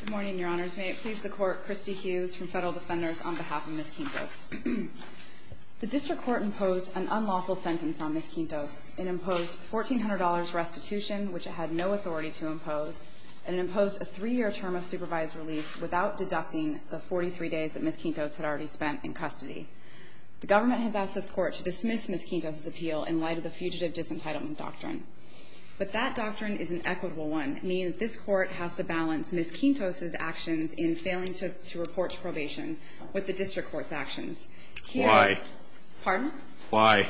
Good morning, Your Honors. May it please the Court, Kristi Hughes from Federal Defenders, on behalf of Ms. Quintos. The District Court imposed an unlawful sentence on Ms. Quintos. It imposed $1,400 restitution, which it had no authority to impose. And it imposed a three-year term of supervised release without deducting the 43 days that Ms. Quintos had already spent in custody. The government has asked this Court to dismiss Ms. Quintos' appeal in light of the Fugitive Disentitlement Doctrine. But that doctrine is an equitable one, meaning that this Court has to balance Ms. Quintos' actions in failing to report to probation with the District Court's actions. Why? Pardon? Why?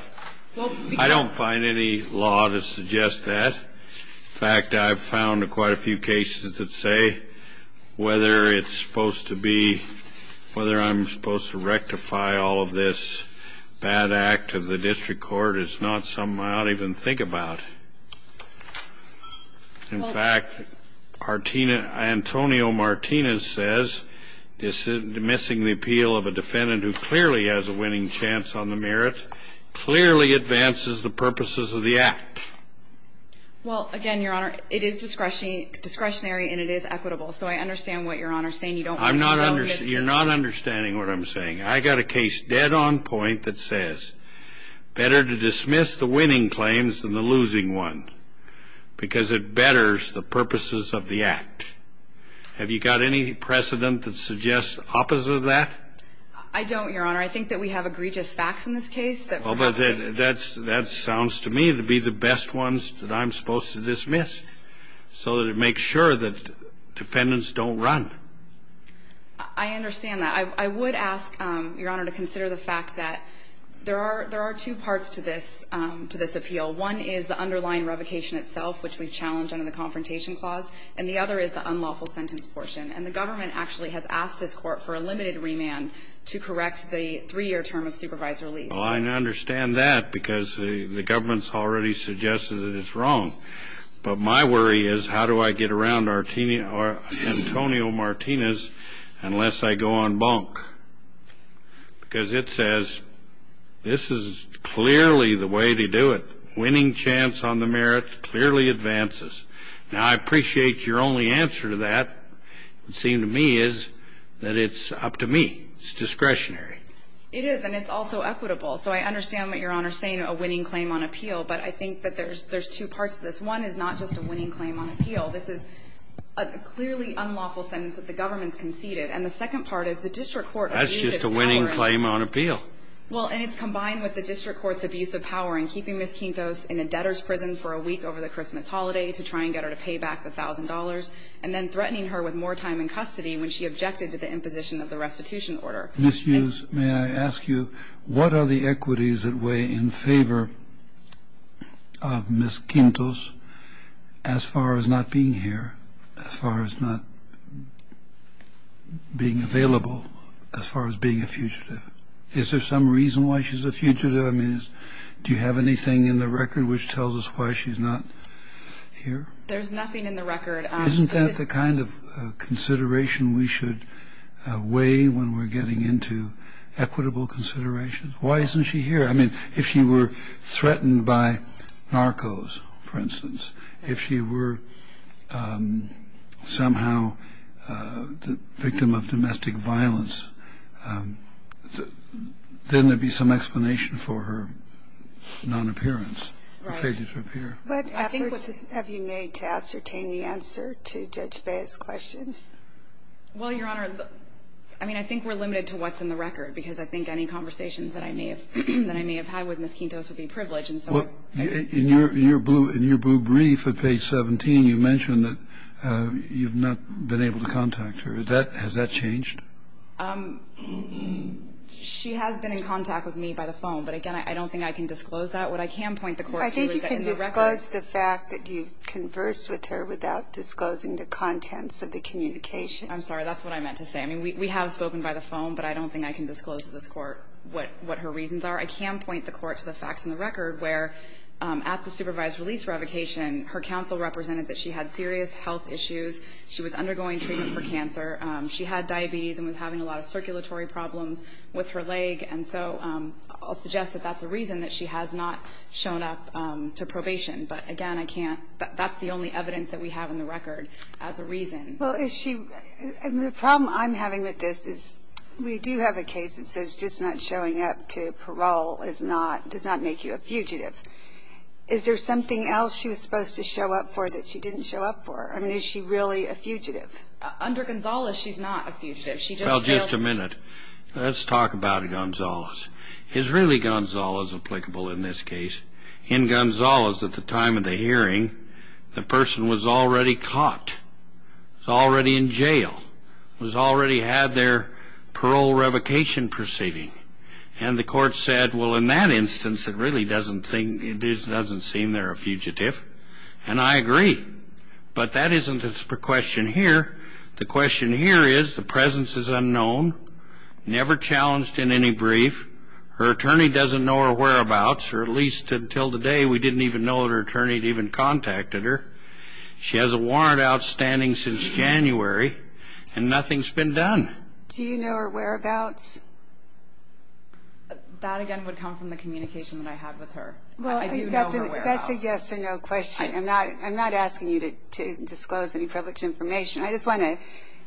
I don't find any law to suggest that. In fact, I've found quite a few cases that say whether it's supposed to be – whether I'm supposed to rectify all of this bad act of the District Court is not something I ought to even think about. In fact, Antonio Martinez says dismissing the appeal of a defendant who clearly has a winning chance on the merit clearly advances the purposes of the act. Well, again, Your Honor, it is discretionary and it is equitable. So I understand what Your Honor is saying. You don't want me to dismiss it. You're not understanding what I'm saying. I got a case dead on point that says better to dismiss the winning claims than the losing one because it betters the purposes of the act. Have you got any precedent that suggests opposite of that? I don't, Your Honor. I think that we have egregious facts in this case that perhaps – Well, but that sounds to me to be the best ones that I'm supposed to dismiss so that it makes sure that defendants don't run. I understand that. I would ask, Your Honor, to consider the fact that there are – there are two parts to this – to this appeal. One is the underlying revocation itself, which we've challenged under the Confrontation Clause, and the other is the unlawful sentence portion. And the government actually has asked this Court for a limited remand to correct the three-year term of supervisor lease. Well, I understand that because the government's already suggested that it's wrong. But my worry is how do I get around Antonio Martinez unless I go on bunk? Because it says this is clearly the way to do it. Winning chance on the merits clearly advances. Now, I appreciate your only answer to that. It seems to me is that it's up to me. It's discretionary. It is, and it's also equitable. So I understand what Your Honor is saying, a winning claim on appeal. But I think that there's – there's two parts to this. One is not just a winning claim on appeal. This is a clearly unlawful sentence that the government's conceded. And the second part is the district court abuses power in – That's just a winning claim on appeal. Well, and it's combined with the district court's abuse of power in keeping Ms. Quintos in a debtor's prison for a week over the Christmas holiday to try and get her to pay back the $1,000, and then threatening her with more time in custody when she objected to the imposition of the restitution order. Ms. Hughes, may I ask you, what are the equities that weigh in favor of Ms. Quintos as far as not being here, as far as not being available, as far as being a fugitive? Is there some reason why she's a fugitive? I mean, do you have anything in the record which tells us why she's not here? There's nothing in the record. Isn't that the kind of consideration we should weigh when we're getting into equitable considerations? Why isn't she here? I mean, if she were threatened by narcos, for instance, if she were somehow the victim of domestic violence, then there'd be some explanation for her non-appearance, her failure to appear. What efforts have you made to ascertain the answer to Judge Bayh's question? Well, Your Honor, I mean, I think we're limited to what's in the record, because I think any conversations that I may have had with Ms. Quintos would be privileged, and so we're not. In your blue brief at page 17, you mentioned that you've not been able to contact her. Has that changed? She has been in contact with me by the phone. But again, I don't think I can disclose that. What I can point the Court to is that in the record ---- I think you can disclose the fact that you conversed with her without disclosing the contents of the communication. I'm sorry. That's what I meant to say. I mean, we have spoken by the phone, but I don't think I can disclose to this Court what her reasons are. I can point the Court to the facts in the record where at the supervised release revocation, her counsel represented that she had serious health issues. She was undergoing treatment for cancer. She had diabetes and was having a lot of circulatory problems with her leg. And so I'll suggest that that's a reason that she has not shown up to probation. But again, I can't ---- that's the only evidence that we have in the record as a reason. Well, is she ---- and the problem I'm having with this is we do have a case that says just not showing up to parole is not ---- does not make you a fugitive. Is there something else she was supposed to show up for that she didn't show up for? I mean, is she really a fugitive? Under Gonzales, she's not a fugitive. She just failed ---- Well, just a minute. Let's talk about Gonzales. Is really Gonzales applicable in this case? In Gonzales, at the time of the hearing, the person was already caught. Was already in jail. Was already had their parole revocation proceeding. And the Court said, well, in that instance, it really doesn't seem they're a fugitive. And I agree. But that isn't the question here. The question here is the presence is unknown, never challenged in any brief. Her attorney doesn't know her whereabouts, or at least until today, we didn't even know that her attorney had even contacted her. She has a warrant outstanding since January, and nothing's been done. Do you know her whereabouts? That, again, would come from the communication that I had with her. I do know her whereabouts. Well, I think that's a yes or no question. I'm not asking you to disclose any public information. I just want to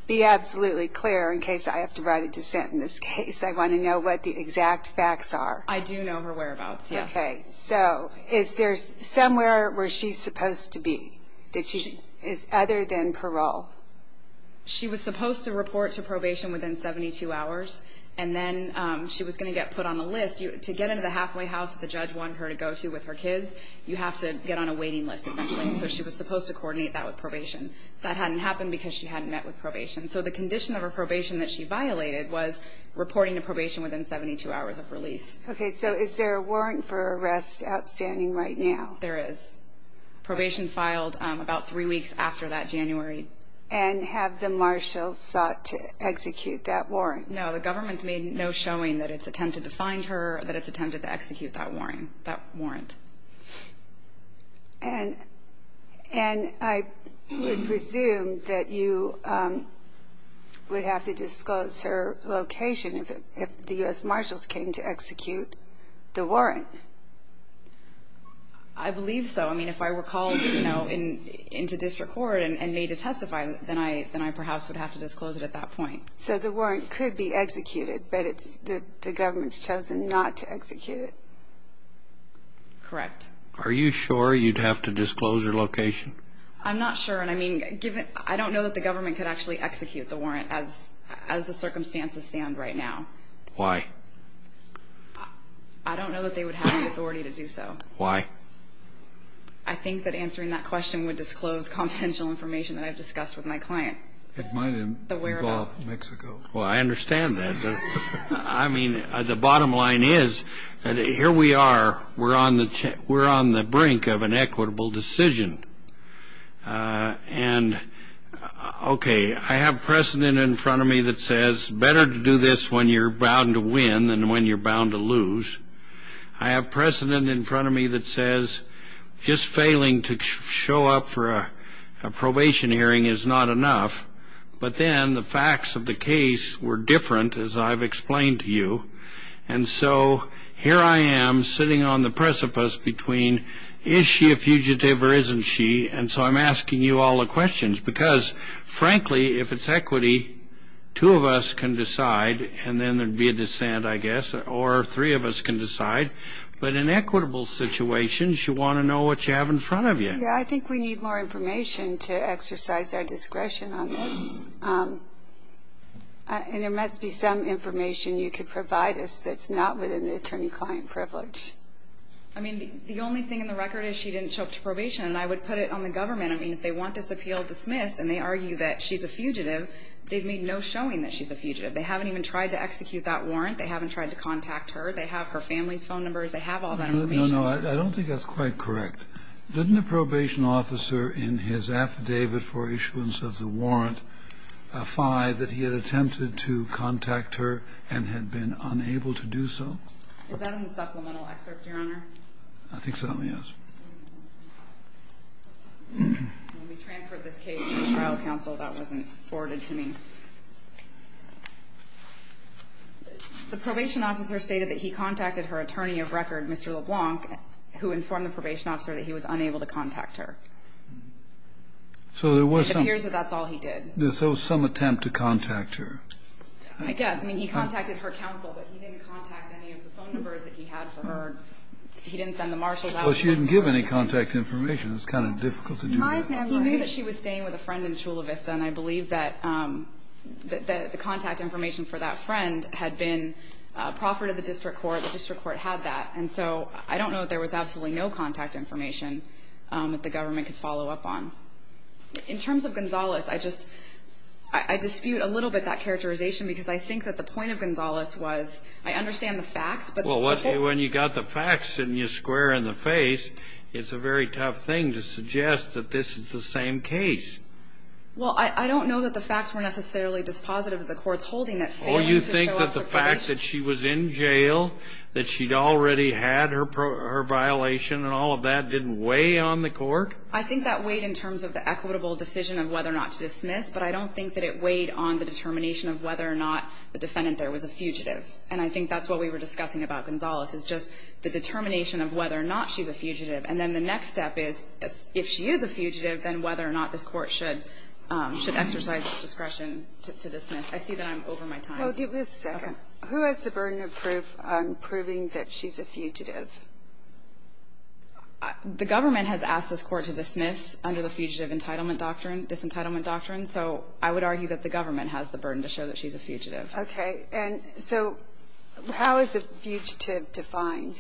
be absolutely clear in case I have to write a dissent in this case. I want to know what the exact facts are. I do know her whereabouts, yes. Okay. So is there somewhere where she's supposed to be that she is other than parole? She was supposed to report to probation within 72 hours, and then she was going to get put on a list. To get into the halfway house that the judge wanted her to go to with her kids, you have to get on a waiting list, essentially. So she was supposed to coordinate that with probation. That hadn't happened because she hadn't met with probation. So the condition of her probation that she violated was reporting to probation within 72 hours of release. Okay. So is there a warrant for arrest outstanding right now? There is. Probation filed about three weeks after that, January. And have the marshals sought to execute that warrant? No. The government's made no showing that it's attempted to find her or that it's attempted to execute that warrant. And I would presume that you would have to disclose her location if the U.S. Marshals came to execute the warrant. I believe so. I mean, if I were called, you know, into district court and made to testify, then I perhaps would have to disclose it at that point. So the warrant could be executed, but the government's chosen not to execute it. Correct. Are you sure you'd have to disclose your location? I'm not sure. And I mean, I don't know that the government could actually execute the warrant as the circumstances stand right now. Why? I don't know that they would have the authority to do so. Why? I think that answering that question would disclose confidential information that I've discussed with my client. It might involve Mexico. Well, I understand that. I mean, the bottom line is that here we are. We're on the brink of an equitable decision. And, okay, I have precedent in front of me that says, better to do this when you're bound to win than when you're bound to lose. I have precedent in front of me that says, just failing to show up for a probation hearing is not enough. But then the facts of the case were different, as I've explained to you. And so here I am sitting on the precipice between, is she a fugitive or isn't she? And so I'm asking you all the questions. Because, frankly, if it's equity, two of us can decide, and then there'd be a dissent, I guess, or three of us can decide. But in equitable situations, you want to know what you have in front of you. Yeah, I think we need more information to exercise our discretion on this. And there must be some information you could provide us that's not within the attorney-client privilege. I mean, the only thing in the record is she didn't show up to probation. And I would put it on the government. I mean, if they want this appeal dismissed and they argue that she's a fugitive, they've made no showing that she's a fugitive. They haven't even tried to execute that warrant. They haven't tried to contact her. They have her family's phone numbers. They have all that information. No, no, I don't think that's quite correct. Didn't the probation officer in his affidavit for issuance of the warrant affy that he had attempted to contact her and had been unable to do so? Is that in the supplemental excerpt, Your Honor? I think so, yes. When we transferred this case to the trial counsel, that wasn't forwarded to me. The probation officer stated that he contacted her attorney of record, Mr. LeBlanc, who informed the probation officer that he was unable to contact her. It appears that that's all he did. So there was some attempt to contact her. I guess. I mean, he contacted her counsel, but he didn't contact any of the phone numbers that he had for her. He didn't send the marshals out. Well, she didn't give any contact information. It's kind of difficult to do that. He knew that she was staying with a friend in Chula Vista, and I believe that the contact information for that friend had been proffered at the district court. The district court had that. And so I don't know that there was absolutely no contact information that the government could follow up on. In terms of Gonzales, I just dispute a little bit that characterization because I think that the point of Gonzales was I understand the facts, but the people Well, when you got the facts and you square in the face, it's a very tough thing to suggest that this is the same case. Well, I don't know that the facts were necessarily dispositive of the court's holding that failing to show up for coverage that she was in jail, that she'd already had her violation and all of that didn't weigh on the court. I think that weighed in terms of the equitable decision of whether or not to dismiss, but I don't think that it weighed on the determination of whether or not the defendant there was a fugitive. And I think that's what we were discussing about Gonzales is just the determination of whether or not she's a fugitive. And then the next step is if she is a fugitive, then whether or not this court should exercise discretion to dismiss. I see that I'm over my time. Well, give me a second. Who has the burden of proof on proving that she's a fugitive? The government has asked this court to dismiss under the Fugitive Entitlement Doctrine, Disentitlement Doctrine, so I would argue that the government has the burden to show that she's a fugitive. Okay. And so how is a fugitive defined?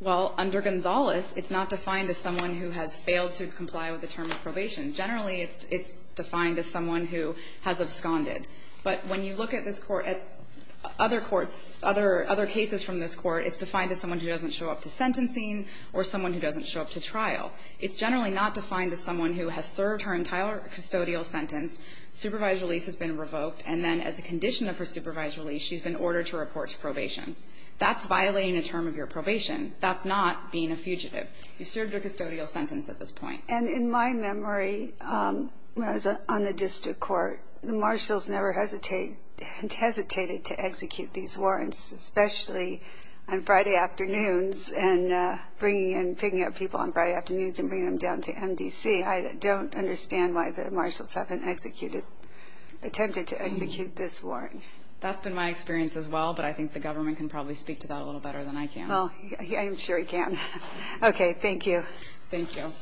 Well, under Gonzales, it's not defined as someone who has failed to comply with the term of probation. Generally, it's defined as someone who has absconded. But when you look at this court, at other courts, other cases from this court, it's defined as someone who doesn't show up to sentencing or someone who doesn't show up to trial. It's generally not defined as someone who has served her entire custodial sentence, supervised release has been revoked, and then as a condition of her supervised release, she's been ordered to report to probation. That's violating a term of your probation. That's not being a fugitive. You served your custodial sentence at this point. And in my memory, when I was on the district court, the marshals never hesitated to execute these warrants, especially on Friday afternoons and picking up people on Friday afternoons and bringing them down to MDC. I don't understand why the marshals haven't attempted to execute this warrant. That's been my experience as well, but I think the government can probably speak to that a little better than I can. I'm sure he can. Okay. Thank you. Thank you.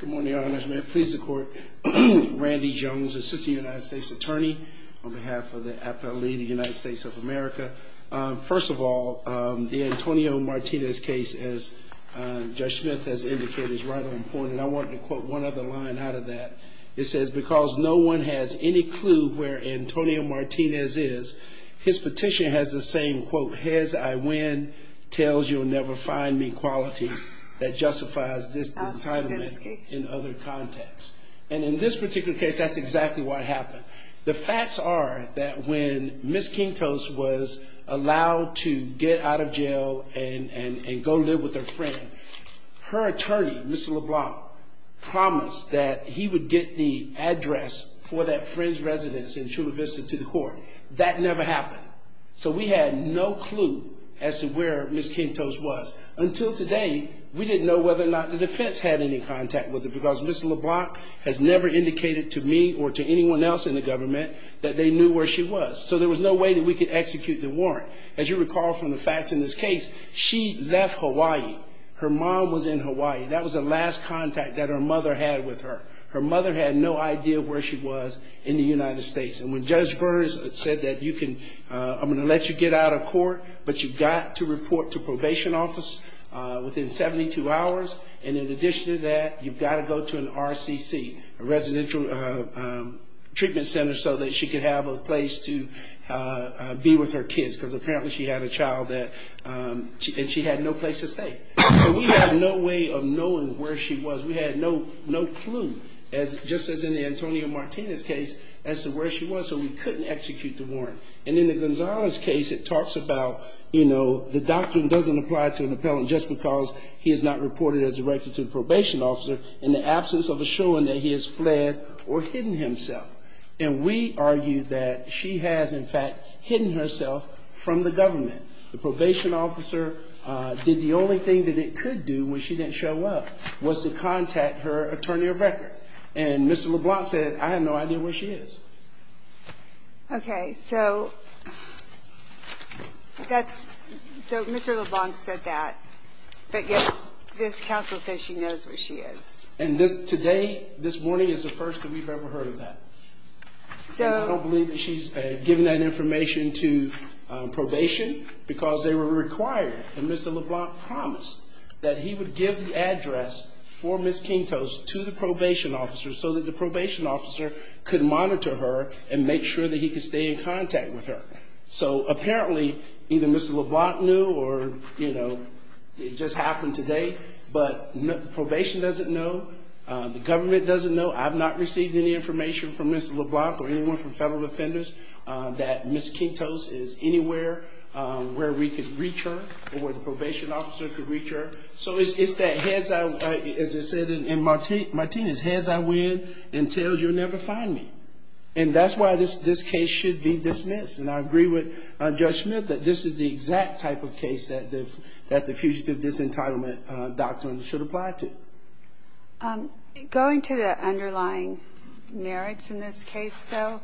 Good morning, Your Honors. May it please the Court. Randy Jones, assistant United States attorney on behalf of the appellee, the United States of America. First of all, the Antonio Martinez case, as Judge Smith has indicated, is right on point, and I wanted to quote one other line out of that. It says, because no one has any clue where Antonio Martinez is, his petition has the same quote, his I win tells you'll never find me quality that justifies this entitlement in other contexts. And in this particular case, that's exactly what happened. The facts are that when Ms. Kingtos was allowed to get out of jail and go live with her friend, her attorney, Mr. LeBlanc promised that he would get the address for that friend's residence in Chula Vista to the court. That never happened. So we had no clue as to where Ms. Kingtos was. Until today, we didn't know whether or not the defense had any contact with her because Ms. LeBlanc has never indicated to me or to anyone else in the government that they knew where she was. So there was no way that we could execute the warrant. As you recall from the facts in this case, she left Hawaii. Her mom was in Hawaii. That was the last contact that her mother had with her. Her mother had no idea where she was in the United States. And when Judge Burns said that I'm going to let you get out of court, but you've got to report to probation office within 72 hours, and in addition to that, you've got to go to an RCC, a residential treatment center, so that she could have a place to be with her kids because apparently she had a child and she had no place to stay. So we had no way of knowing where she was. We had no clue, just as in the Antonio Martinez case, as to where she was. So we couldn't execute the warrant. And in the Gonzalez case, it talks about, you know, the doctrine doesn't apply to an appellant just because he is not reported as directed to the probation officer in the absence of a showing that he has fled or hidden himself. And we argue that she has, in fact, hidden herself from the government. The probation officer did the only thing that it could do when she didn't show up was to contact her attorney of record. And Mr. LeBlanc said, I have no idea where she is. Okay, so Mr. LeBlanc said that, but yet this counsel says she knows where she is. And today, this morning, is the first that we've ever heard of that. I don't believe that she's given that information to probation because they were required, and Mr. LeBlanc promised that he would give the address for Ms. Quintos to the probation officer so that the probation officer could monitor her and make sure that he could stay in contact with her. So apparently, either Mr. LeBlanc knew or, you know, it just happened today. But probation doesn't know. The government doesn't know. I've not received any information from Ms. LeBlanc or anyone from federal defenders that Ms. Quintos is anywhere where we could reach her or where the probation officer could reach her. So it's that, as I said in Martinez, heads I win and tails you'll never find me. And that's why this case should be dismissed. And I agree with Judge Smith that this is the exact type of case that the Fugitive Disentitlement Doctrine should apply to. Going to the underlying merits in this case, though,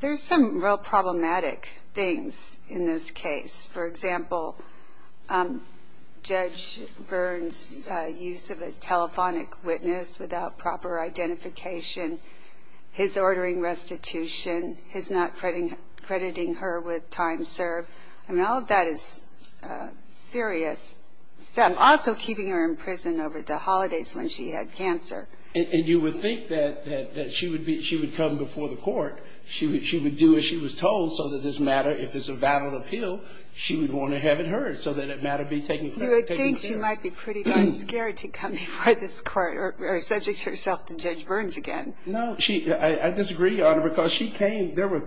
there's some real problematic things in this case. For example, Judge Byrne's use of a telephonic witness without proper identification, his ordering restitution, his not crediting her with time served. I mean, all of that is serious. Also keeping her in prison over the holidays when she had cancer. And you would think that she would come before the court. She would do as she was told so that it doesn't matter if it's a vandal appeal, she would want to have it heard so that it matter be taken care of. You would think she might be pretty darn scared to come before this court or subject herself to Judge Byrne's again. No. I disagree, Your Honor, because she came, there were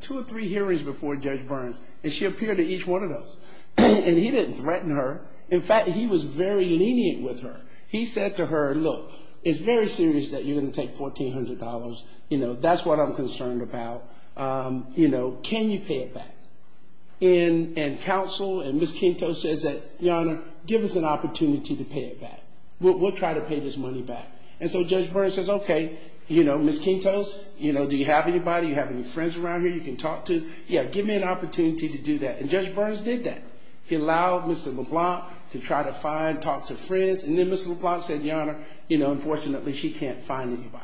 two or three hearings before Judge Byrne's, and she appeared to each one of those. And he didn't threaten her. In fact, he was very lenient with her. He said to her, look, it's very serious that you're going to take $1,400. You know, that's what I'm concerned about. You know, can you pay it back? And counsel and Ms. Quinto says that, Your Honor, give us an opportunity to pay it back. We'll try to pay this money back. And so Judge Byrne says, okay, you know, Ms. Quinto, you know, do you have anybody? Do you have any friends around here you can talk to? Yeah, give me an opportunity to do that. And Judge Byrne's did that. He allowed Ms. LeBlanc to try to find, talk to friends. And then Ms. LeBlanc said, Your Honor, you know, unfortunately she can't find anybody.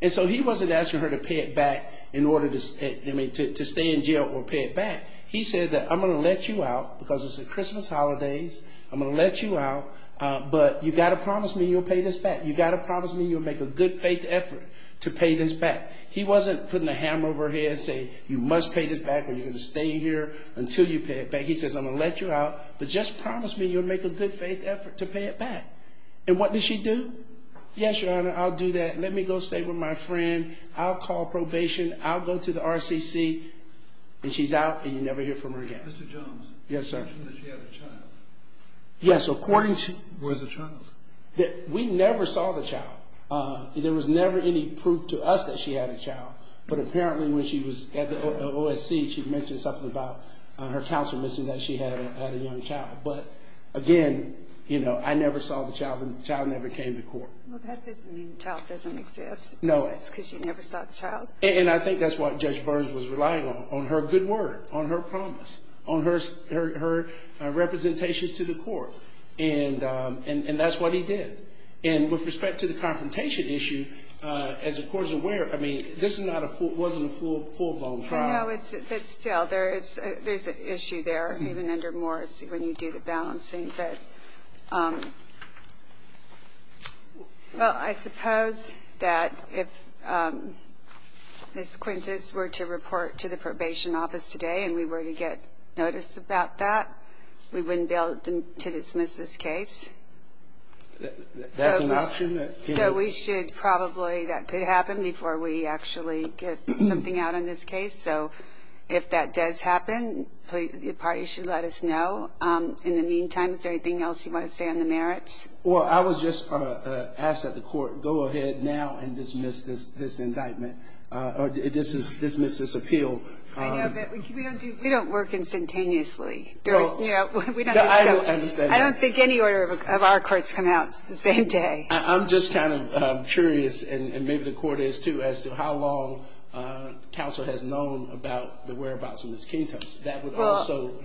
And so he wasn't asking her to pay it back in order to stay in jail or pay it back. He said that I'm going to let you out because it's the Christmas holidays. I'm going to let you out, but you've got to promise me you'll pay this back. You've got to promise me you'll make a good faith effort to pay this back. He wasn't putting a hammer over her head saying you must pay this back or you're going to stay here until you pay it back. He says, I'm going to let you out, but just promise me you'll make a good faith effort to pay it back. And what did she do? Yes, Your Honor, I'll do that. Let me go stay with my friend. I'll call probation. I'll go to the RCC. And she's out, and you never hear from her again. Mr. Jones. Yes, sir. You mentioned that she had a child. Yes, according to. Where's the child? We never saw the child. There was never any proof to us that she had a child. But apparently when she was at the OSC, she mentioned something about her counselor mentioned that she had a young child. But, again, you know, I never saw the child, and the child never came to court. Well, that doesn't mean the child doesn't exist. No. That's because you never saw the child. And I think that's what Judge Burns was relying on, on her good word, on her promise, on her representations to the court. And that's what he did. And with respect to the confrontation issue, as the court is aware, I mean, this wasn't a full-blown trial. No, but still, there's an issue there, even under Morris, when you do the balancing. But, well, I suppose that if Ms. Quintus were to report to the probation office today and we were to get notice about that, we wouldn't be able to dismiss this case. That's an option. So we should probably, that could happen before we actually get something out on this case. So if that does happen, the parties should let us know. In the meantime, is there anything else you want to say on the merits? Well, I was just asked that the court go ahead now and dismiss this indictment or dismiss this appeal. I know, but we don't work instantaneously. I don't think any order of our courts come out the same day. I'm just kind of curious, and maybe the court is too, as to how long counsel has known about the whereabouts of Ms. Quintus. That would also go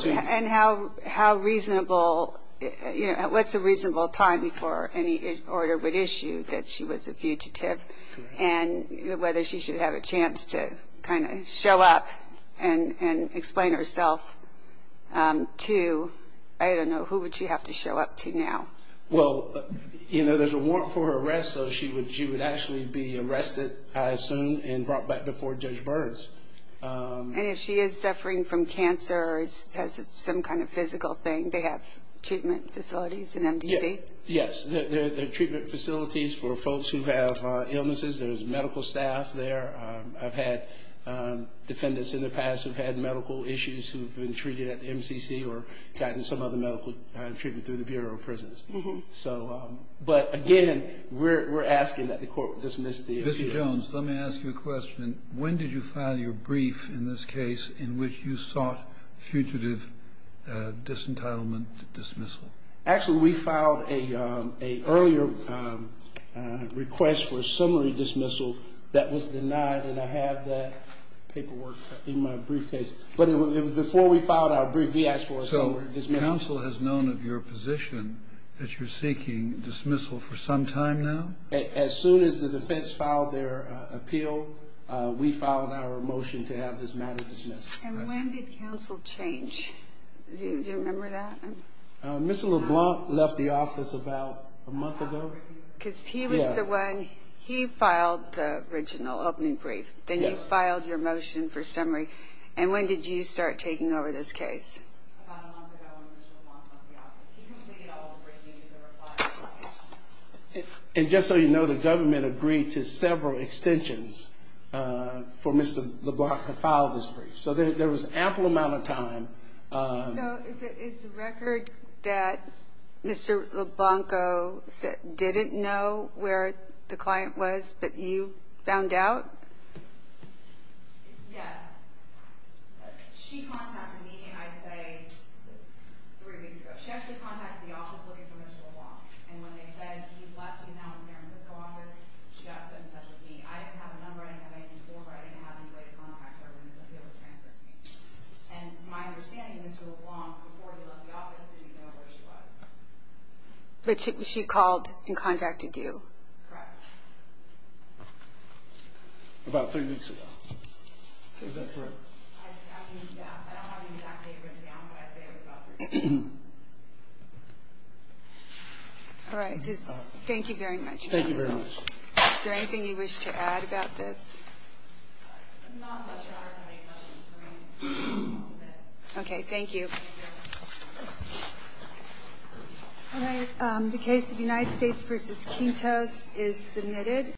to you. And how reasonable, you know, what's a reasonable time before any order would issue that she was a fugitive? And whether she should have a chance to kind of show up and explain herself to, I don't know, who would she have to show up to now? Well, you know, there's a warrant for her arrest, so she would actually be arrested, I assume, and brought back before Judge Burns. And if she is suffering from cancer or has some kind of physical thing, they have treatment facilities in MDC? Yes. They're treatment facilities for folks who have illnesses. There's medical staff there. I've had defendants in the past who've had medical issues who've been treated at MCC or gotten some other medical treatment through the Bureau of Prisons. So, but again, we're asking that the court dismiss the appeal. Mr. Jones, let me ask you a question. When did you file your brief in this case in which you sought fugitive disentitlement dismissal? Actually, we filed an earlier request for a summary dismissal that was denied, and I have that paperwork in my briefcase. But before we filed our brief, we asked for a summary dismissal. So counsel has known of your position that you're seeking dismissal for some time now? As soon as the defense filed their appeal, we filed our motion to have this matter dismissed. And when did counsel change? Do you remember that? Mr. LeBlanc left the office about a month ago. Because he was the one, he filed the original opening brief. Then you filed your motion for summary. And when did you start taking over this case? About a month ago when Mr. LeBlanc left the office. He completed all of the briefings that were filed. And just so you know, the government agreed to several extensions for Mr. LeBlanc to file this brief. So there was an ample amount of time. So is the record that Mr. LeBlanc didn't know where the client was, but you found out? Yes. She contacted me, I'd say, three weeks ago. She actually contacted the office looking for Mr. LeBlanc. And when they said, he's left you now in the San Francisco office, she got in touch with me. I didn't have a number. I didn't have anything to report. I didn't have anybody to contact her when this appeal was transferred to me. And to my understanding, Mr. LeBlanc, before he left the office, didn't know where she was. But she called and contacted you? Correct. About three weeks ago. Is that correct? I don't have an exact date written down, but I'd say it was about three weeks ago. All right. Thank you very much. Thank you very much. Is there anything you wish to add about this? Not unless your Honor has any questions for me. Submit. Okay. Thank you. All right. The case of United States v. Quintos is submitted.